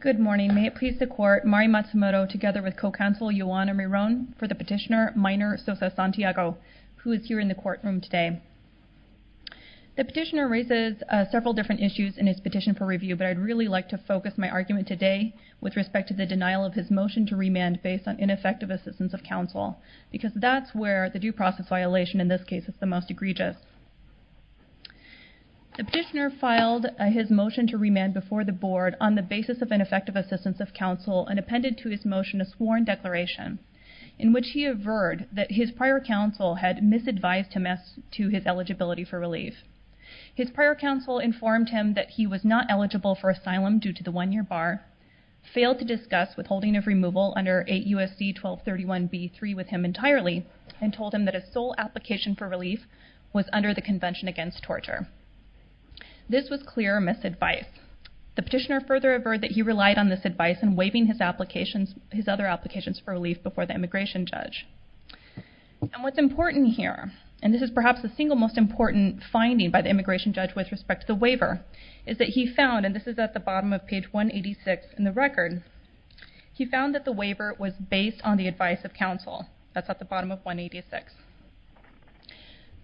Good morning. May it please the court, Mari Matsumoto together with co-counsel Juana Miron for the petitioner, Minor Sosa-Santiago, who is here in the courtroom today. The petitioner raises several different issues in his petition for review, but I'd really like to focus my argument today with respect to the denial of his motion to remand based on ineffective assistance of counsel, because that's where the due process violation in this case is the most egregious. The petitioner filed his motion to remand before the board on the basis of ineffective assistance of counsel and appended to his motion a sworn declaration in which he averred that his prior counsel had misadvised him as to his eligibility for relief. His prior counsel informed him that he was not eligible for asylum due to the one-year bar, failed to discuss withholding of removal under 8 U.S.C. 1231 B.3 with him entirely, and told him that his sole application for relief was under the Convention Against Torture. This was clear misadvice. The petitioner further averred that he relied on this advice in waiving his other applications for relief before the immigration judge. And what's important here, and this is perhaps the single most important finding by the immigration judge with respect to the waiver, is that he found, and this is at the bottom of page 186 in the record, he found that the waiver was based on the advice of counsel. That's at the bottom of 186.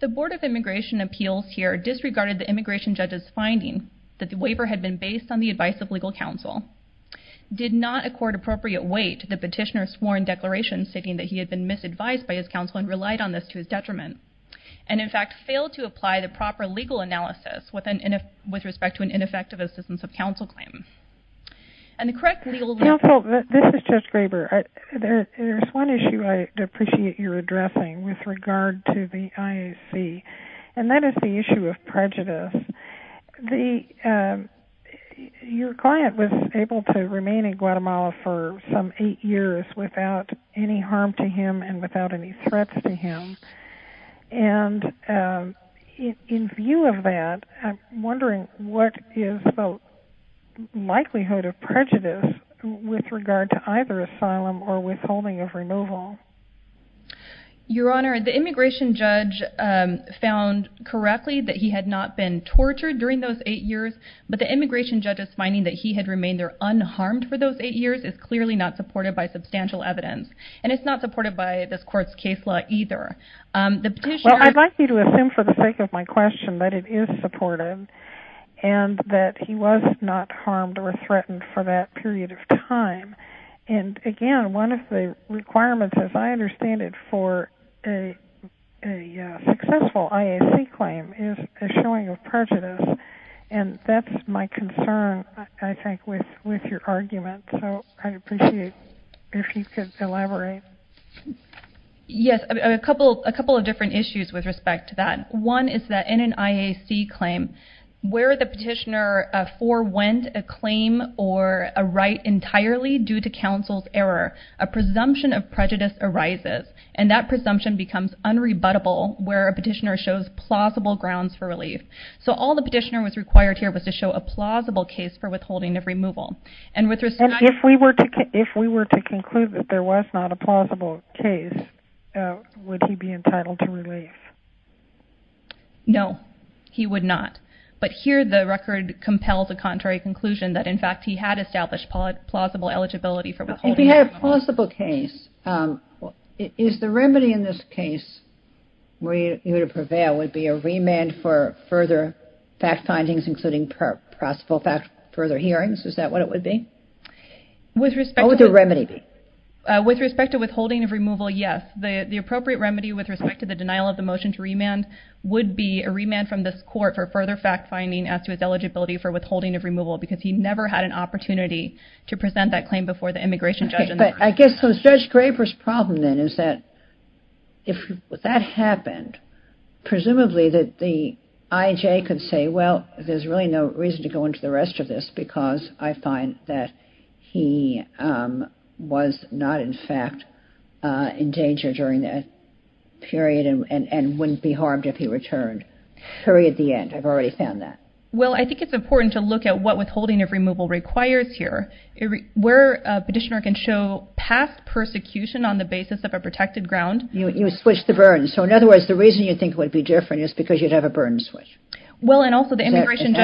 The Board of Immigration Appeals here disregarded the immigration judge's finding that the waiver had been based on the advice of legal counsel, did not accord appropriate weight to the petitioner's sworn declaration stating that he had been misadvised by his counsel and relied on this to his detriment, and in fact failed to apply the proper legal analysis with respect to an effective assistance of counsel claim. And the correct legal analysis... Counsel, this is Judge Graber. There's one issue I'd appreciate your addressing with regard to the IAC, and that is the issue of prejudice. Your client was able to remain in Guatemala for some eight years without any harm to him and without any threats to him, and in view of that, I'm wondering what is the likelihood of prejudice with regard to either asylum or withholding of removal? Your Honor, the immigration judge found correctly that he had not been tortured during those eight years, but the immigration judge's finding that he had remained there unharmed for those eight years is clearly not supported by substantial evidence, and it's not supported by this court's case law either. The petitioner... Well, I'd like you to assume for the sake of my court, and that he was not harmed or threatened for that period of time. And again, one of the requirements, as I understand it, for a successful IAC claim is a showing of prejudice, and that's my concern, I think, with your argument. So I'd appreciate if you could elaborate. Yes, a couple of different issues with respect to that. One is that in an IAC claim, where the petitioner forewent a claim or a right entirely due to counsel's error, a presumption of prejudice arises, and that presumption becomes unrebuttable where a petitioner shows plausible grounds for relief. So all the petitioner was required here was to show a plausible case for withholding of the money. If he had a plausible case, would he be entitled to relief? No, he would not. But here the record compels a contrary conclusion that, in fact, he had established plausible eligibility for withholding of the money. If he had a plausible case, is the remedy in this case, were you to prevail, would be a remand for further fact findings, including possible further hearings? Is that what it would be? What would the remedy be? With respect to withholding of removal, yes. The appropriate remedy with respect to the denial of the motion to remand would be a remand from this court for further fact finding as to his eligibility for withholding of removal because he never had an opportunity to present that claim before the immigration judge. I guess Judge Graber's problem then is that if that happened, presumably that the he was not, in fact, in danger during that period and wouldn't be harmed if he returned. Period, the end. I've already found that. Well, I think it's important to look at what withholding of removal requires here. Where a petitioner can show past persecution on the basis of a protected ground. You switched the burden. So in other words, the reason you think it would be different is because you'd have a burden switch. Well, and also the immigration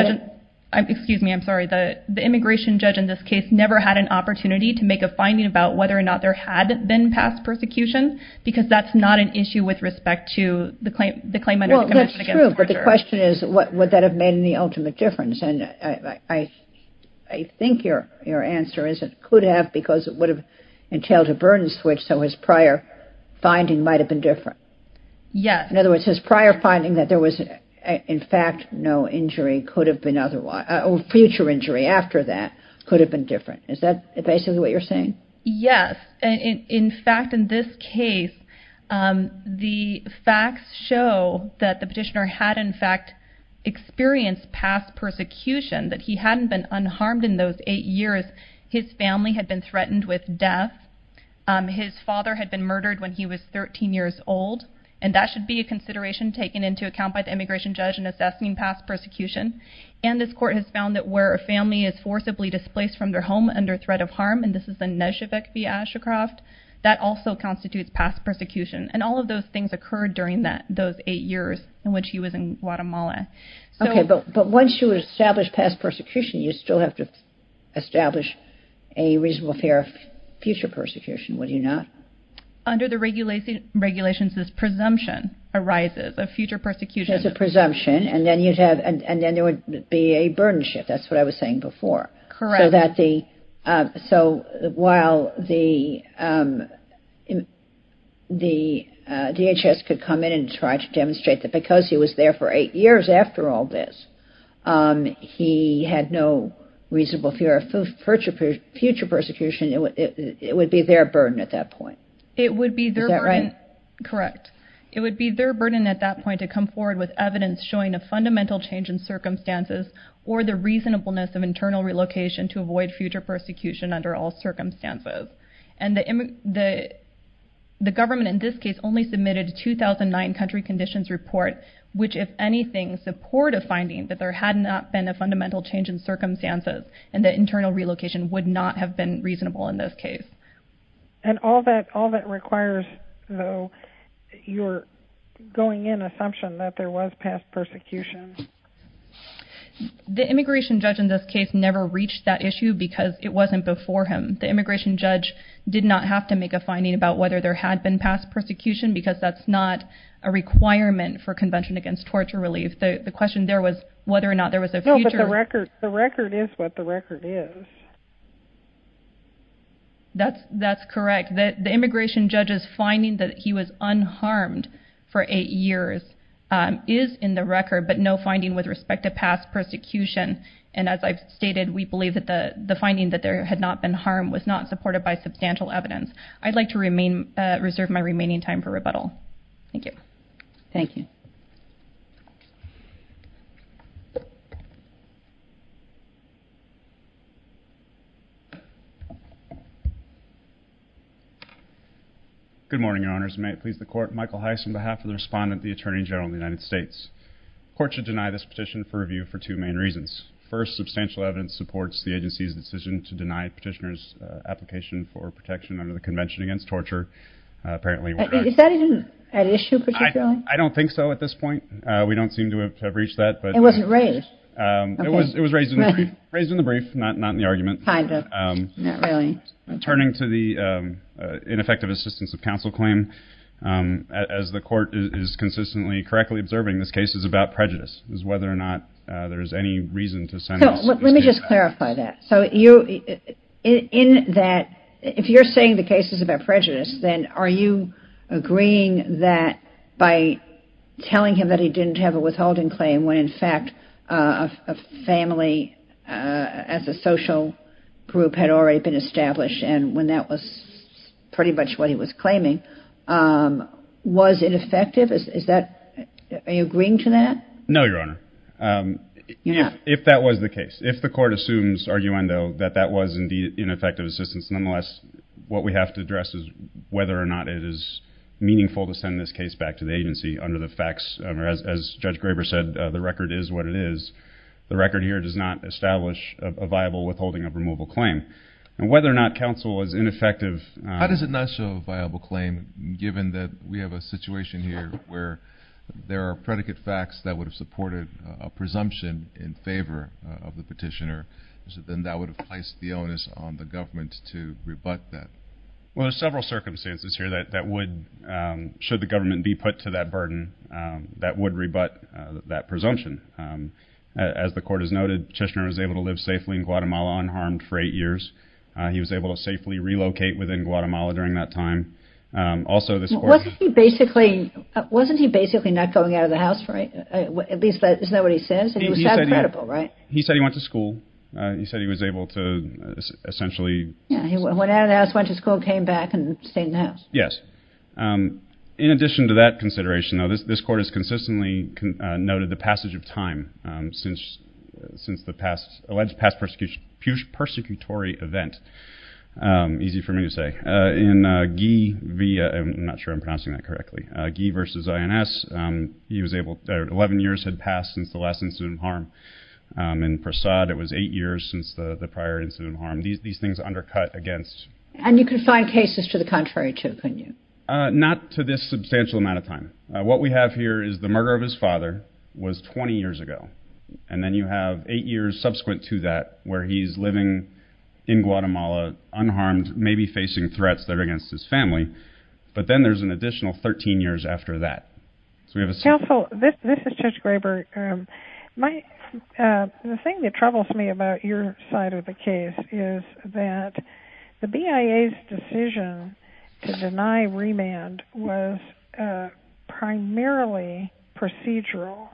judge in this case never had an opportunity to make a finding about whether or not there had been past persecution because that's not an issue with respect to the claim. The claimant. Well, that's true. But the question is, what would that have made in the ultimate difference? And I think your answer is it could have because it would have entailed a burden switch. So his prior finding might have been different. Yes. In other words, his prior finding that there was, in fact, no injury could have been otherwise or future injury after that could have been different. Is that basically what you're saying? Yes. In fact, in this case, the facts show that the petitioner had, in fact, experienced past persecution, that he hadn't been unharmed in those eight years. His family had been threatened with death. His father had been murdered when he was 13 years old. And that should be a consideration taken into account by the immigration judge in assessing past persecution. And this court has found that where a family is forcibly displaced from their home under threat of harm, and this is the Nezhebek v. Ashercroft, that also constitutes past persecution. And all of those things occurred during those eight years in which he was in Guatemala. OK, but once you establish past persecution, you still have to under the regulations, this presumption arises of future persecution. There's a presumption and then there would be a burden shift. That's what I was saying before. So while the DHS could come in and try to demonstrate that because he was there for eight years after all this, he had no reasonable fear of future persecution, it would be their burden at that point. Is that right? Correct. It would be their burden at that point to come forward with evidence showing a fundamental change in circumstances or the reasonableness of internal relocation to avoid future persecution under all circumstances. And the government in this case only submitted 2009 country conditions report, which, if anything, support a finding that there had not been a And all that requires, though, your going in assumption that there was past persecution. The immigration judge in this case never reached that issue because it wasn't before him. The immigration judge did not have to make a finding about whether there had been past persecution because that's not a requirement for Convention Against Torture Relief. The question there was whether or not there was a The record is what the record is. That's correct. The immigration judge's finding that he was unharmed for eight years is in the record, but no finding with respect to past persecution. And as I've stated, we believe that the finding that there had not been harmed was not supported by substantial evidence. I'd like to reserve my remaining time for rebuttal. Thank you. Thank you. Good morning, Your Honors. May it please the Court, Michael Heiss on behalf of the Respondent, the Attorney General of the United States. Court should deny this petition for review for two main reasons. First, substantial evidence supports the agency's decision to deny petitioner's application for protection under the Convention Against Torture. Is that even an issue particularly? I don't think so at this point. We don't seem to have reached that. It wasn't raised? It was raised in the brief, not in the argument. Kind of. Not really. Turning to the ineffective assistance of counsel claim, as the Court is consistently correctly observing, this case is about prejudice. It's whether or not there's any reason to send this case back. Let me just clarify that. If you're saying the case is about prejudice, then are you agreeing that by telling him that he didn't have a withholding claim when, in fact, a family as a social group had already been established and when that was pretty much what he was claiming, was ineffective? Are you agreeing to that? No, Your Honor. If that was the case, if the Court assumes arguendo that that was indeed ineffective assistance, nonetheless, what we have to address is whether or not it is meaningful to send this case back to the agency under the facts. As Judge Graber said, the record is what it is. The record here does not establish a viable withholding of removal claim. Whether or not counsel is ineffective... How does it not show a viable claim given that we have a situation here where there are predicate facts that would have supported a presumption in favor of the petitioner? Then that would have placed the onus on the government to rebut that. Well, there's several circumstances here that would, should the government be put to that burden, that would rebut that presumption. As the Court has noted, Chisholm was able to live safely in Guatemala unharmed for eight years. He was able to safely relocate within Guatemala during that time. Wasn't he basically not going out of the house? Isn't that what he says? He said he went to school. He said he was able to essentially... He went out of the house, went to school, came back and stayed in the house. Yes. In addition to that consideration, this Court has consistently noted the passage of time since the alleged past persecutory event. Easy for me to say. In Guy versus INS, 11 years had passed since the last incident of harm. In Prasad, it was eight years since the prior incident of harm. These things undercut against... And you can find cases to the contrary too, couldn't you? Not to this substantial amount of time. What we have here is the murder of his father was 20 years ago. And then you have eight years subsequent to that where he's living in Guatemala unharmed, maybe facing threats that are against his family. But then there's an additional 13 years after that. Counsel, this is Judge Graber. The thing that troubles me about your side of the case is that the BIA's decision to deny remand was primarily procedural.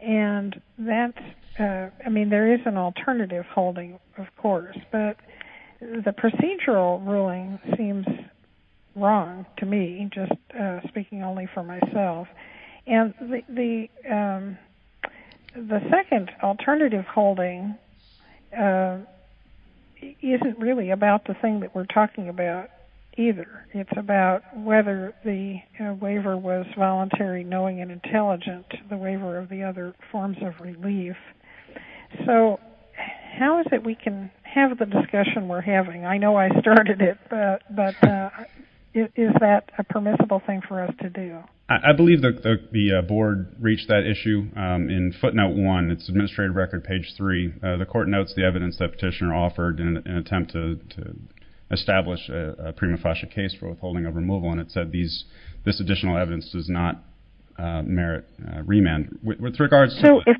And that's... I mean, there is an alternative holding, of course, but the procedural ruling seems wrong to me, just speaking only for myself. And the second alternative holding isn't really about the thing that we're talking about either. It's about whether the waiver was voluntary, knowing and intelligent, the waiver of the other forms of relief. So how is it we can have the discussion we're having? I know I started it, but is that a permissible thing for us to do? I believe that the board reached that issue in footnote one. It's administrative record page three. The court notes the evidence that petitioner offered in an attempt to establish a prima facie case for withholding of removal. And it said this additional evidence does not merit remand. With regards to... If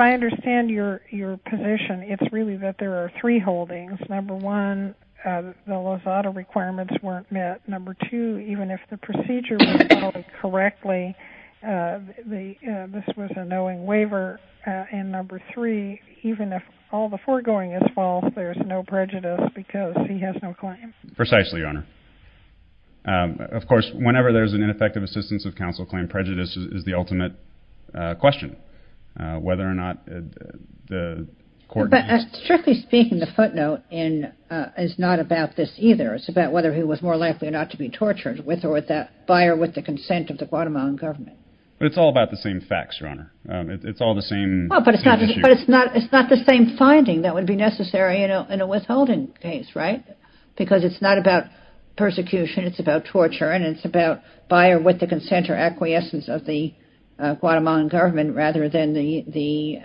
I understand your position, it's really that there are three holdings. Number one, the Lozada requirements weren't met. Number two, even if the procedure was followed correctly, this was a knowing waiver. And number three, even if all the foregoing is false, there's no prejudice because he has no claim. Precisely, Your Honor. Of course, whenever there's an ineffective assistance of counsel claim, prejudice is the ultimate question. Whether or not the court... Strictly speaking, the footnote is not about this either. It's about whether he was more likely or not to be tortured with or with that buyer with the consent of the Guatemalan government. But it's all about the same facts, Your Honor. It's all the same issue. But it's not the same finding that would be necessary in a withholding case, right? Because it's not about persecution. It's about torture. And it's about buyer with the consent or acquiescence of the Guatemalan government rather than the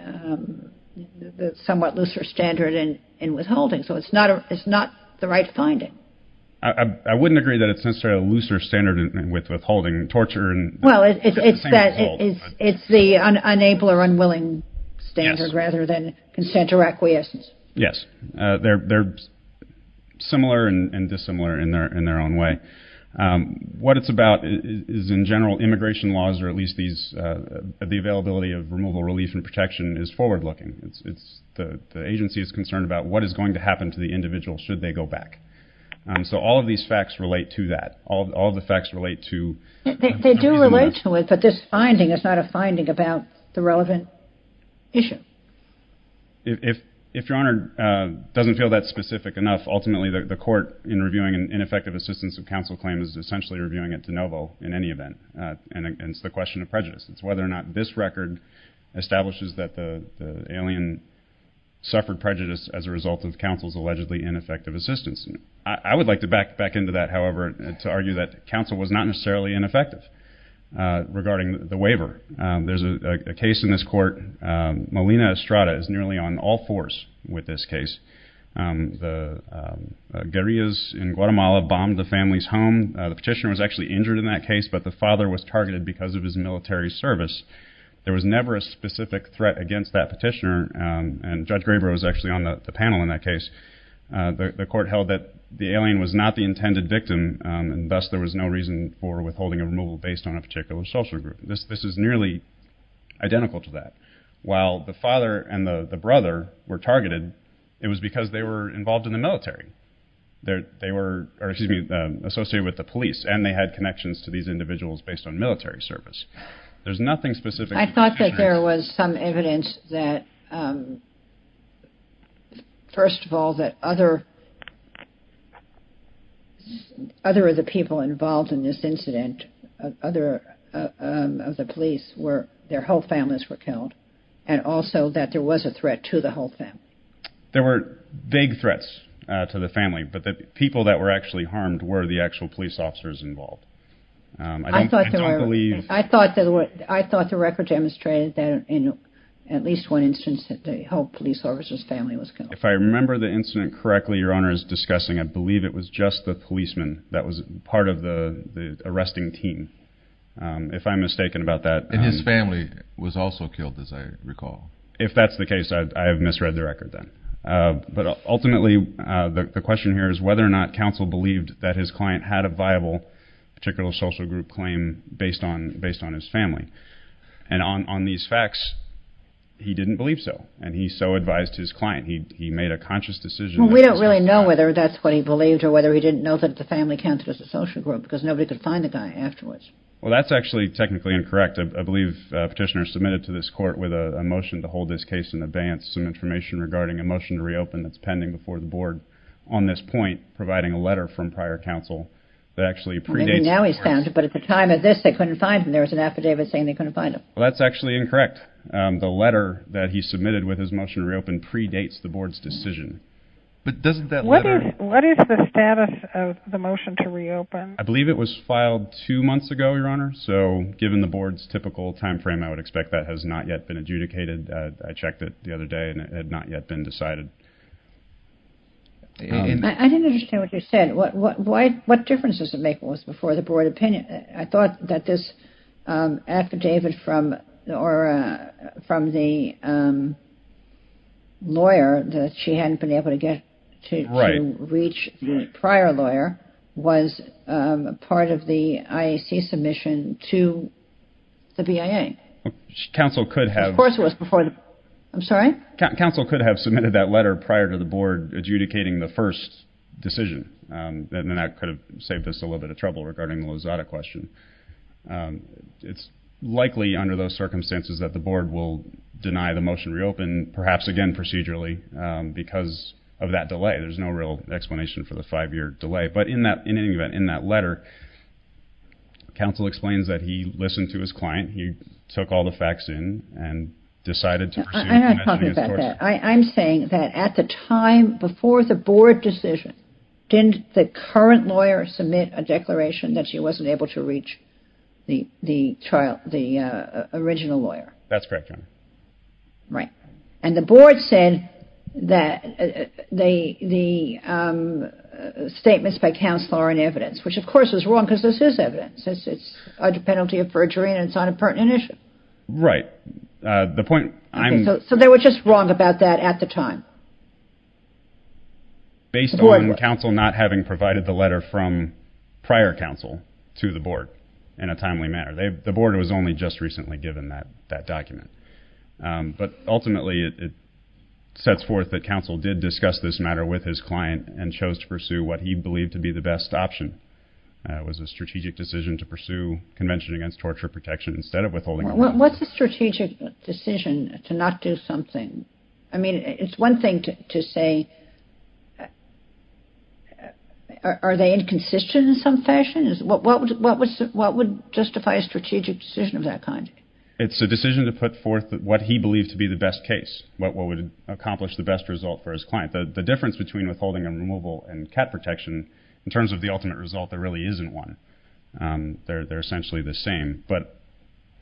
somewhat looser standard in withholding. So it's not the right finding. I wouldn't agree that it's necessarily a looser standard with withholding torture. Well, it's the unable or unwilling standard rather than consent or acquiescence. Yes. They're similar and dissimilar in their own way. What it's about is, in general, immigration laws or at least the availability of removal, relief, and protection is forward-looking. The agency is concerned about what is going to happen to the individual should they go back. So all of these facts relate to that. All the facts relate to... They do relate to it, but this finding is not a finding about the relevant issue. If Your Honor doesn't feel that specific enough, ultimately the court in reviewing an ineffective assistance of counsel claim is essentially reviewing it de novo in any event. And it's the question of prejudice. It's whether or not this record establishes that the alien suffered prejudice as a result of counsel's allegedly ineffective assistance. I would like to back into that, however, to argue that counsel was not necessarily ineffective regarding the waiver. There's a case in this court, Molina Estrada is nearly on all fours with this case. The guerrillas in Guatemala bombed the family's home. The petitioner was actually injured in that case, but the father was targeted because of his military service. There was never a specific threat against that petitioner, and Judge Graber was actually on the panel in that case. The court held that the alien was not the intended victim, and thus there was no reason for withholding a removal based on a particular social group. This is nearly identical to that. While the father and the brother were targeted, it was because they were involved in the military. They were associated with the police, and they had connections to these individuals based on military service. I thought that there was some evidence that, first of all, that other of the people involved in this incident, other of the police, their whole families were killed, and also that there was a threat to the whole family. There were vague threats to the family, but the people that were actually harmed were the actual police officers involved. I thought the record demonstrated that in at least one instance that the whole police officer's family was killed. If I remember the incident correctly, Your Honor is discussing, I believe it was just the policeman that was part of the arresting team. If I'm mistaken about that... And his family was also killed, as I recall. If that's the case, I have misread the record then. Ultimately, the question here is whether or not counsel believed that his client had a viable particular social group claim based on his family. On these facts, he didn't believe so, and he so advised his client. He made a conscious decision... We don't really know whether that's what he believed or whether he didn't know that the family counted as a social group because nobody could find the guy afterwards. Well, that's actually technically incorrect. I believe Petitioner submitted to this court with a motion to hold this case in advance some information regarding a motion to reopen that's pending before the board on this point, providing a letter from prior counsel that actually predates... Maybe now he's found it, but at the time of this, they couldn't find him. There was an affidavit saying they couldn't find him. Well, that's actually incorrect. The letter that he submitted with his motion to reopen predates the board's decision. But doesn't that letter... I believe it was filed two months ago, Your Honor, so given the board's typical timeframe, I would expect that has not yet been adjudicated. I checked it the other day, and it had not yet been decided. I didn't understand what you said. What difference does it make what was before the board opinion? I thought that this affidavit from the lawyer that she hadn't been able to get to reach the prior lawyer was part of the IAC submission to the BIA. Counsel could have... Of course it was before the... I'm sorry? Counsel could have submitted that letter prior to the board adjudicating the first decision. Then that could have saved us a little bit of trouble regarding the Lozada question. It's likely under those circumstances that the board will deny the motion to reopen, perhaps again procedurally, because of that delay. There's no real explanation for the five-year delay. But in any event, in that letter, counsel explains that he listened to his client. He took all the facts in and decided to pursue... I'm not talking about that. I'm saying that at the time before the board decision, didn't the current lawyer submit a declaration that she wasn't able to reach the original lawyer? That's correct, Your Honor. Right. And the board said that the statements by counsel are in evidence, which of course is wrong because this is evidence. It's a penalty of perjury and it's not a pertinent issue. Right. The point I'm... So they were just wrong about that at the time? Based on counsel not having provided the letter from prior counsel to the board in a timely manner. The board was only just recently given that document. But ultimately, it sets forth that counsel did discuss this matter with his client and chose to pursue what he believed to be the best option. It was a strategic decision to pursue convention against torture protection instead of withholding... What's a strategic decision to not do something? I mean, it's one thing to say, are they inconsistent in some fashion? What would justify a strategic decision of that kind? It's a decision to put forth what he believed to be the best case, what would accomplish the best result for his client. The difference between withholding and removal and cat protection, in terms of the ultimate result, there really isn't one. They're essentially the same. But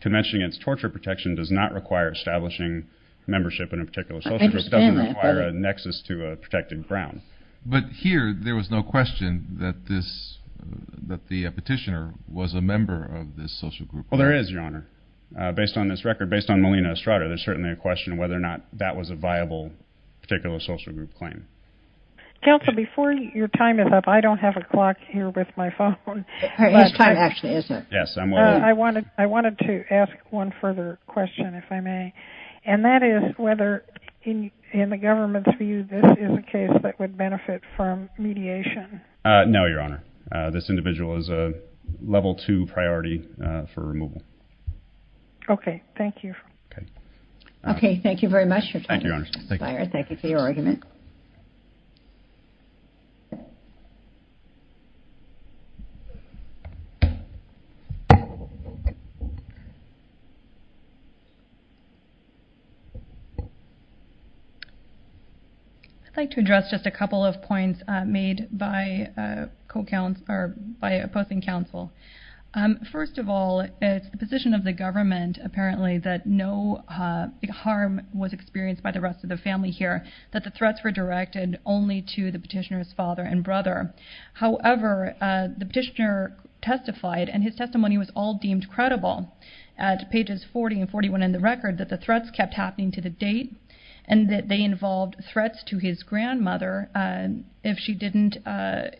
convention against torture protection does not require establishing membership in a particular social group. I understand that, but... It doesn't require a nexus to a protected ground. But here, there was no question that the petitioner was a member of this social group. Well, there is, Your Honor. Based on this record, based on Melina Estrada, there's certainly a question of whether or not that was a viable particular social group claim. Counsel, before your time is up, I don't have a clock here with my phone. Well, it's time actually, isn't it? Yes. I wanted to ask one further question, if I may. And that is whether, in the government's view, this is a case that would benefit from mediation. No, Your Honor. This individual is a level two priority for removal. Okay. Thank you. Okay. Okay. Thank you very much, Your Honor. Thank you, Your Honor. Thank you for your argument. I'd like to address just a couple of points made by opposing counsel. First of all, it's the position of the government, apparently, that no harm was experienced by the rest of the family here, that the threats were directed only to the petitioner's father and brother. However, the petitioner testified, and his testimony was all deemed credible. At pages 40 and 41 in the record, that the threats kept happening to the date, and that they involved threats to his grandmother if she didn't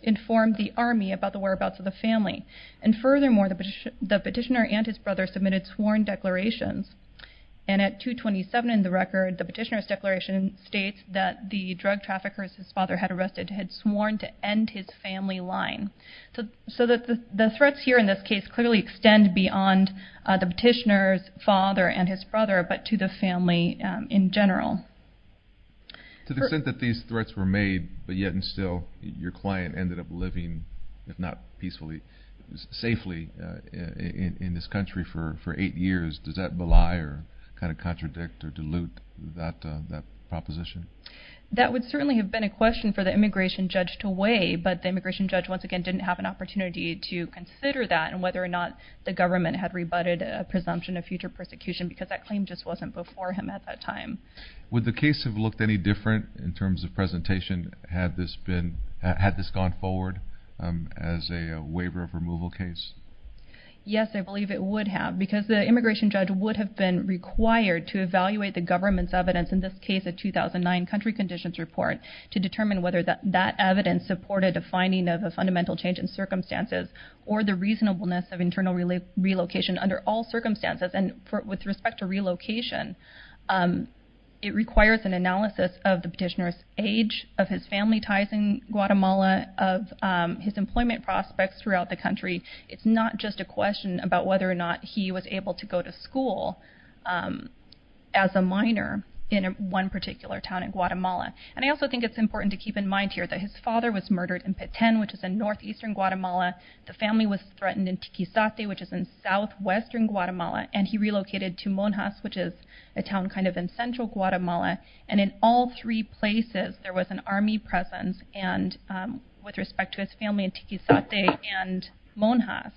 inform the Army about the whereabouts of the family. And furthermore, the petitioner and his brother submitted sworn declarations. And at 227 in the record, the petitioner's declaration states that the drug traffickers his father had arrested had sworn to end his family line. So the threats here in this case clearly extend beyond the petitioner's father and his brother, but to the family in general. To the extent that these threats were made, but yet and still your client ended up living, if not peacefully, safely in this country for eight years, does that belie or kind of contradict or dilute that proposition? That would certainly have been a question for the immigration judge to weigh, but the immigration judge, once again, didn't have an opportunity to consider that, and whether or not the government had rebutted a presumption of future persecution, because that claim just wasn't before him at that time. Would the case have looked any different in terms of presentation had this gone forward as a waiver of removal case? Yes, I believe it would have, because the immigration judge would have been required to evaluate the government's evidence, in this case a 2009 country conditions report, to determine whether that evidence supported a finding of a fundamental change in circumstances or the reasonableness of internal relocation under all circumstances. And with respect to relocation, it requires an analysis of the petitioner's age, of his family ties in Guatemala, of his employment prospects throughout the country. It's not just a question about whether or not he was able to go to school as a minor in one particular town in Guatemala. And I also think it's important to keep in mind here that his father was murdered in Petén, which is in northeastern Guatemala. The family was threatened in Tiquizate, which is in southwestern Guatemala, and he relocated to Monjas, which is a town kind of in central Guatemala, and in all three places there was an army presence, and with respect to his family in Tiquizate and Monjas,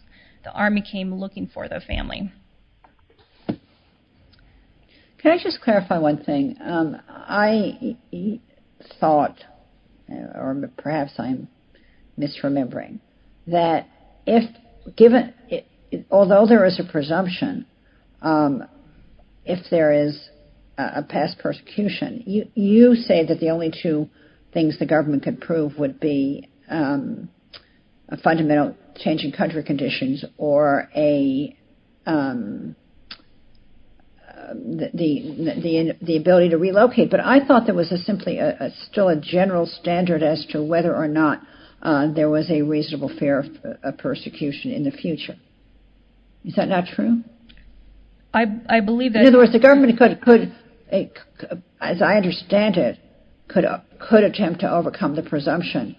the army came looking for the family. Can I just clarify one thing? I thought, or perhaps I'm misremembering, that if given, although there is a presumption, if there is a past persecution, you say that the only two things the government could prove would be a fundamental change in country conditions or the ability to relocate, but I thought there was simply still a general standard as to whether or not there was a reasonable fear of persecution in the future. Is that not true? I believe that... In other words, the government could, as I understand it, could attempt to overcome the presumption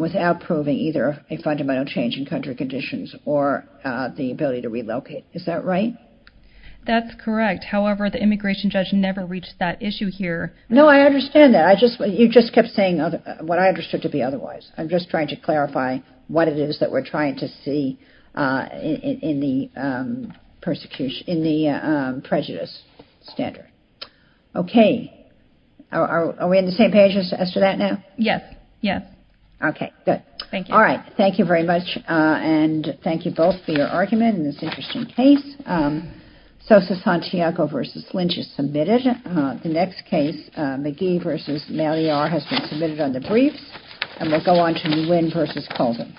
without proving either a fundamental change in country conditions or the ability to relocate. Is that right? That's correct. However, the immigration judge never reached that issue here. No, I understand that. You just kept saying what I understood to be otherwise. I'm just trying to clarify what it is that we're trying to see in the prejudice standard. Okay. Are we on the same page as to that now? Yes, yes. Okay, good. Thank you. All right. Thank you very much, and thank you both for your argument in this interesting case. Sosa-Santiago v. Lynch is submitted. The next case, McGee v. Malliar, has been submitted under briefs, and we'll go on to Nguyen v. Colton.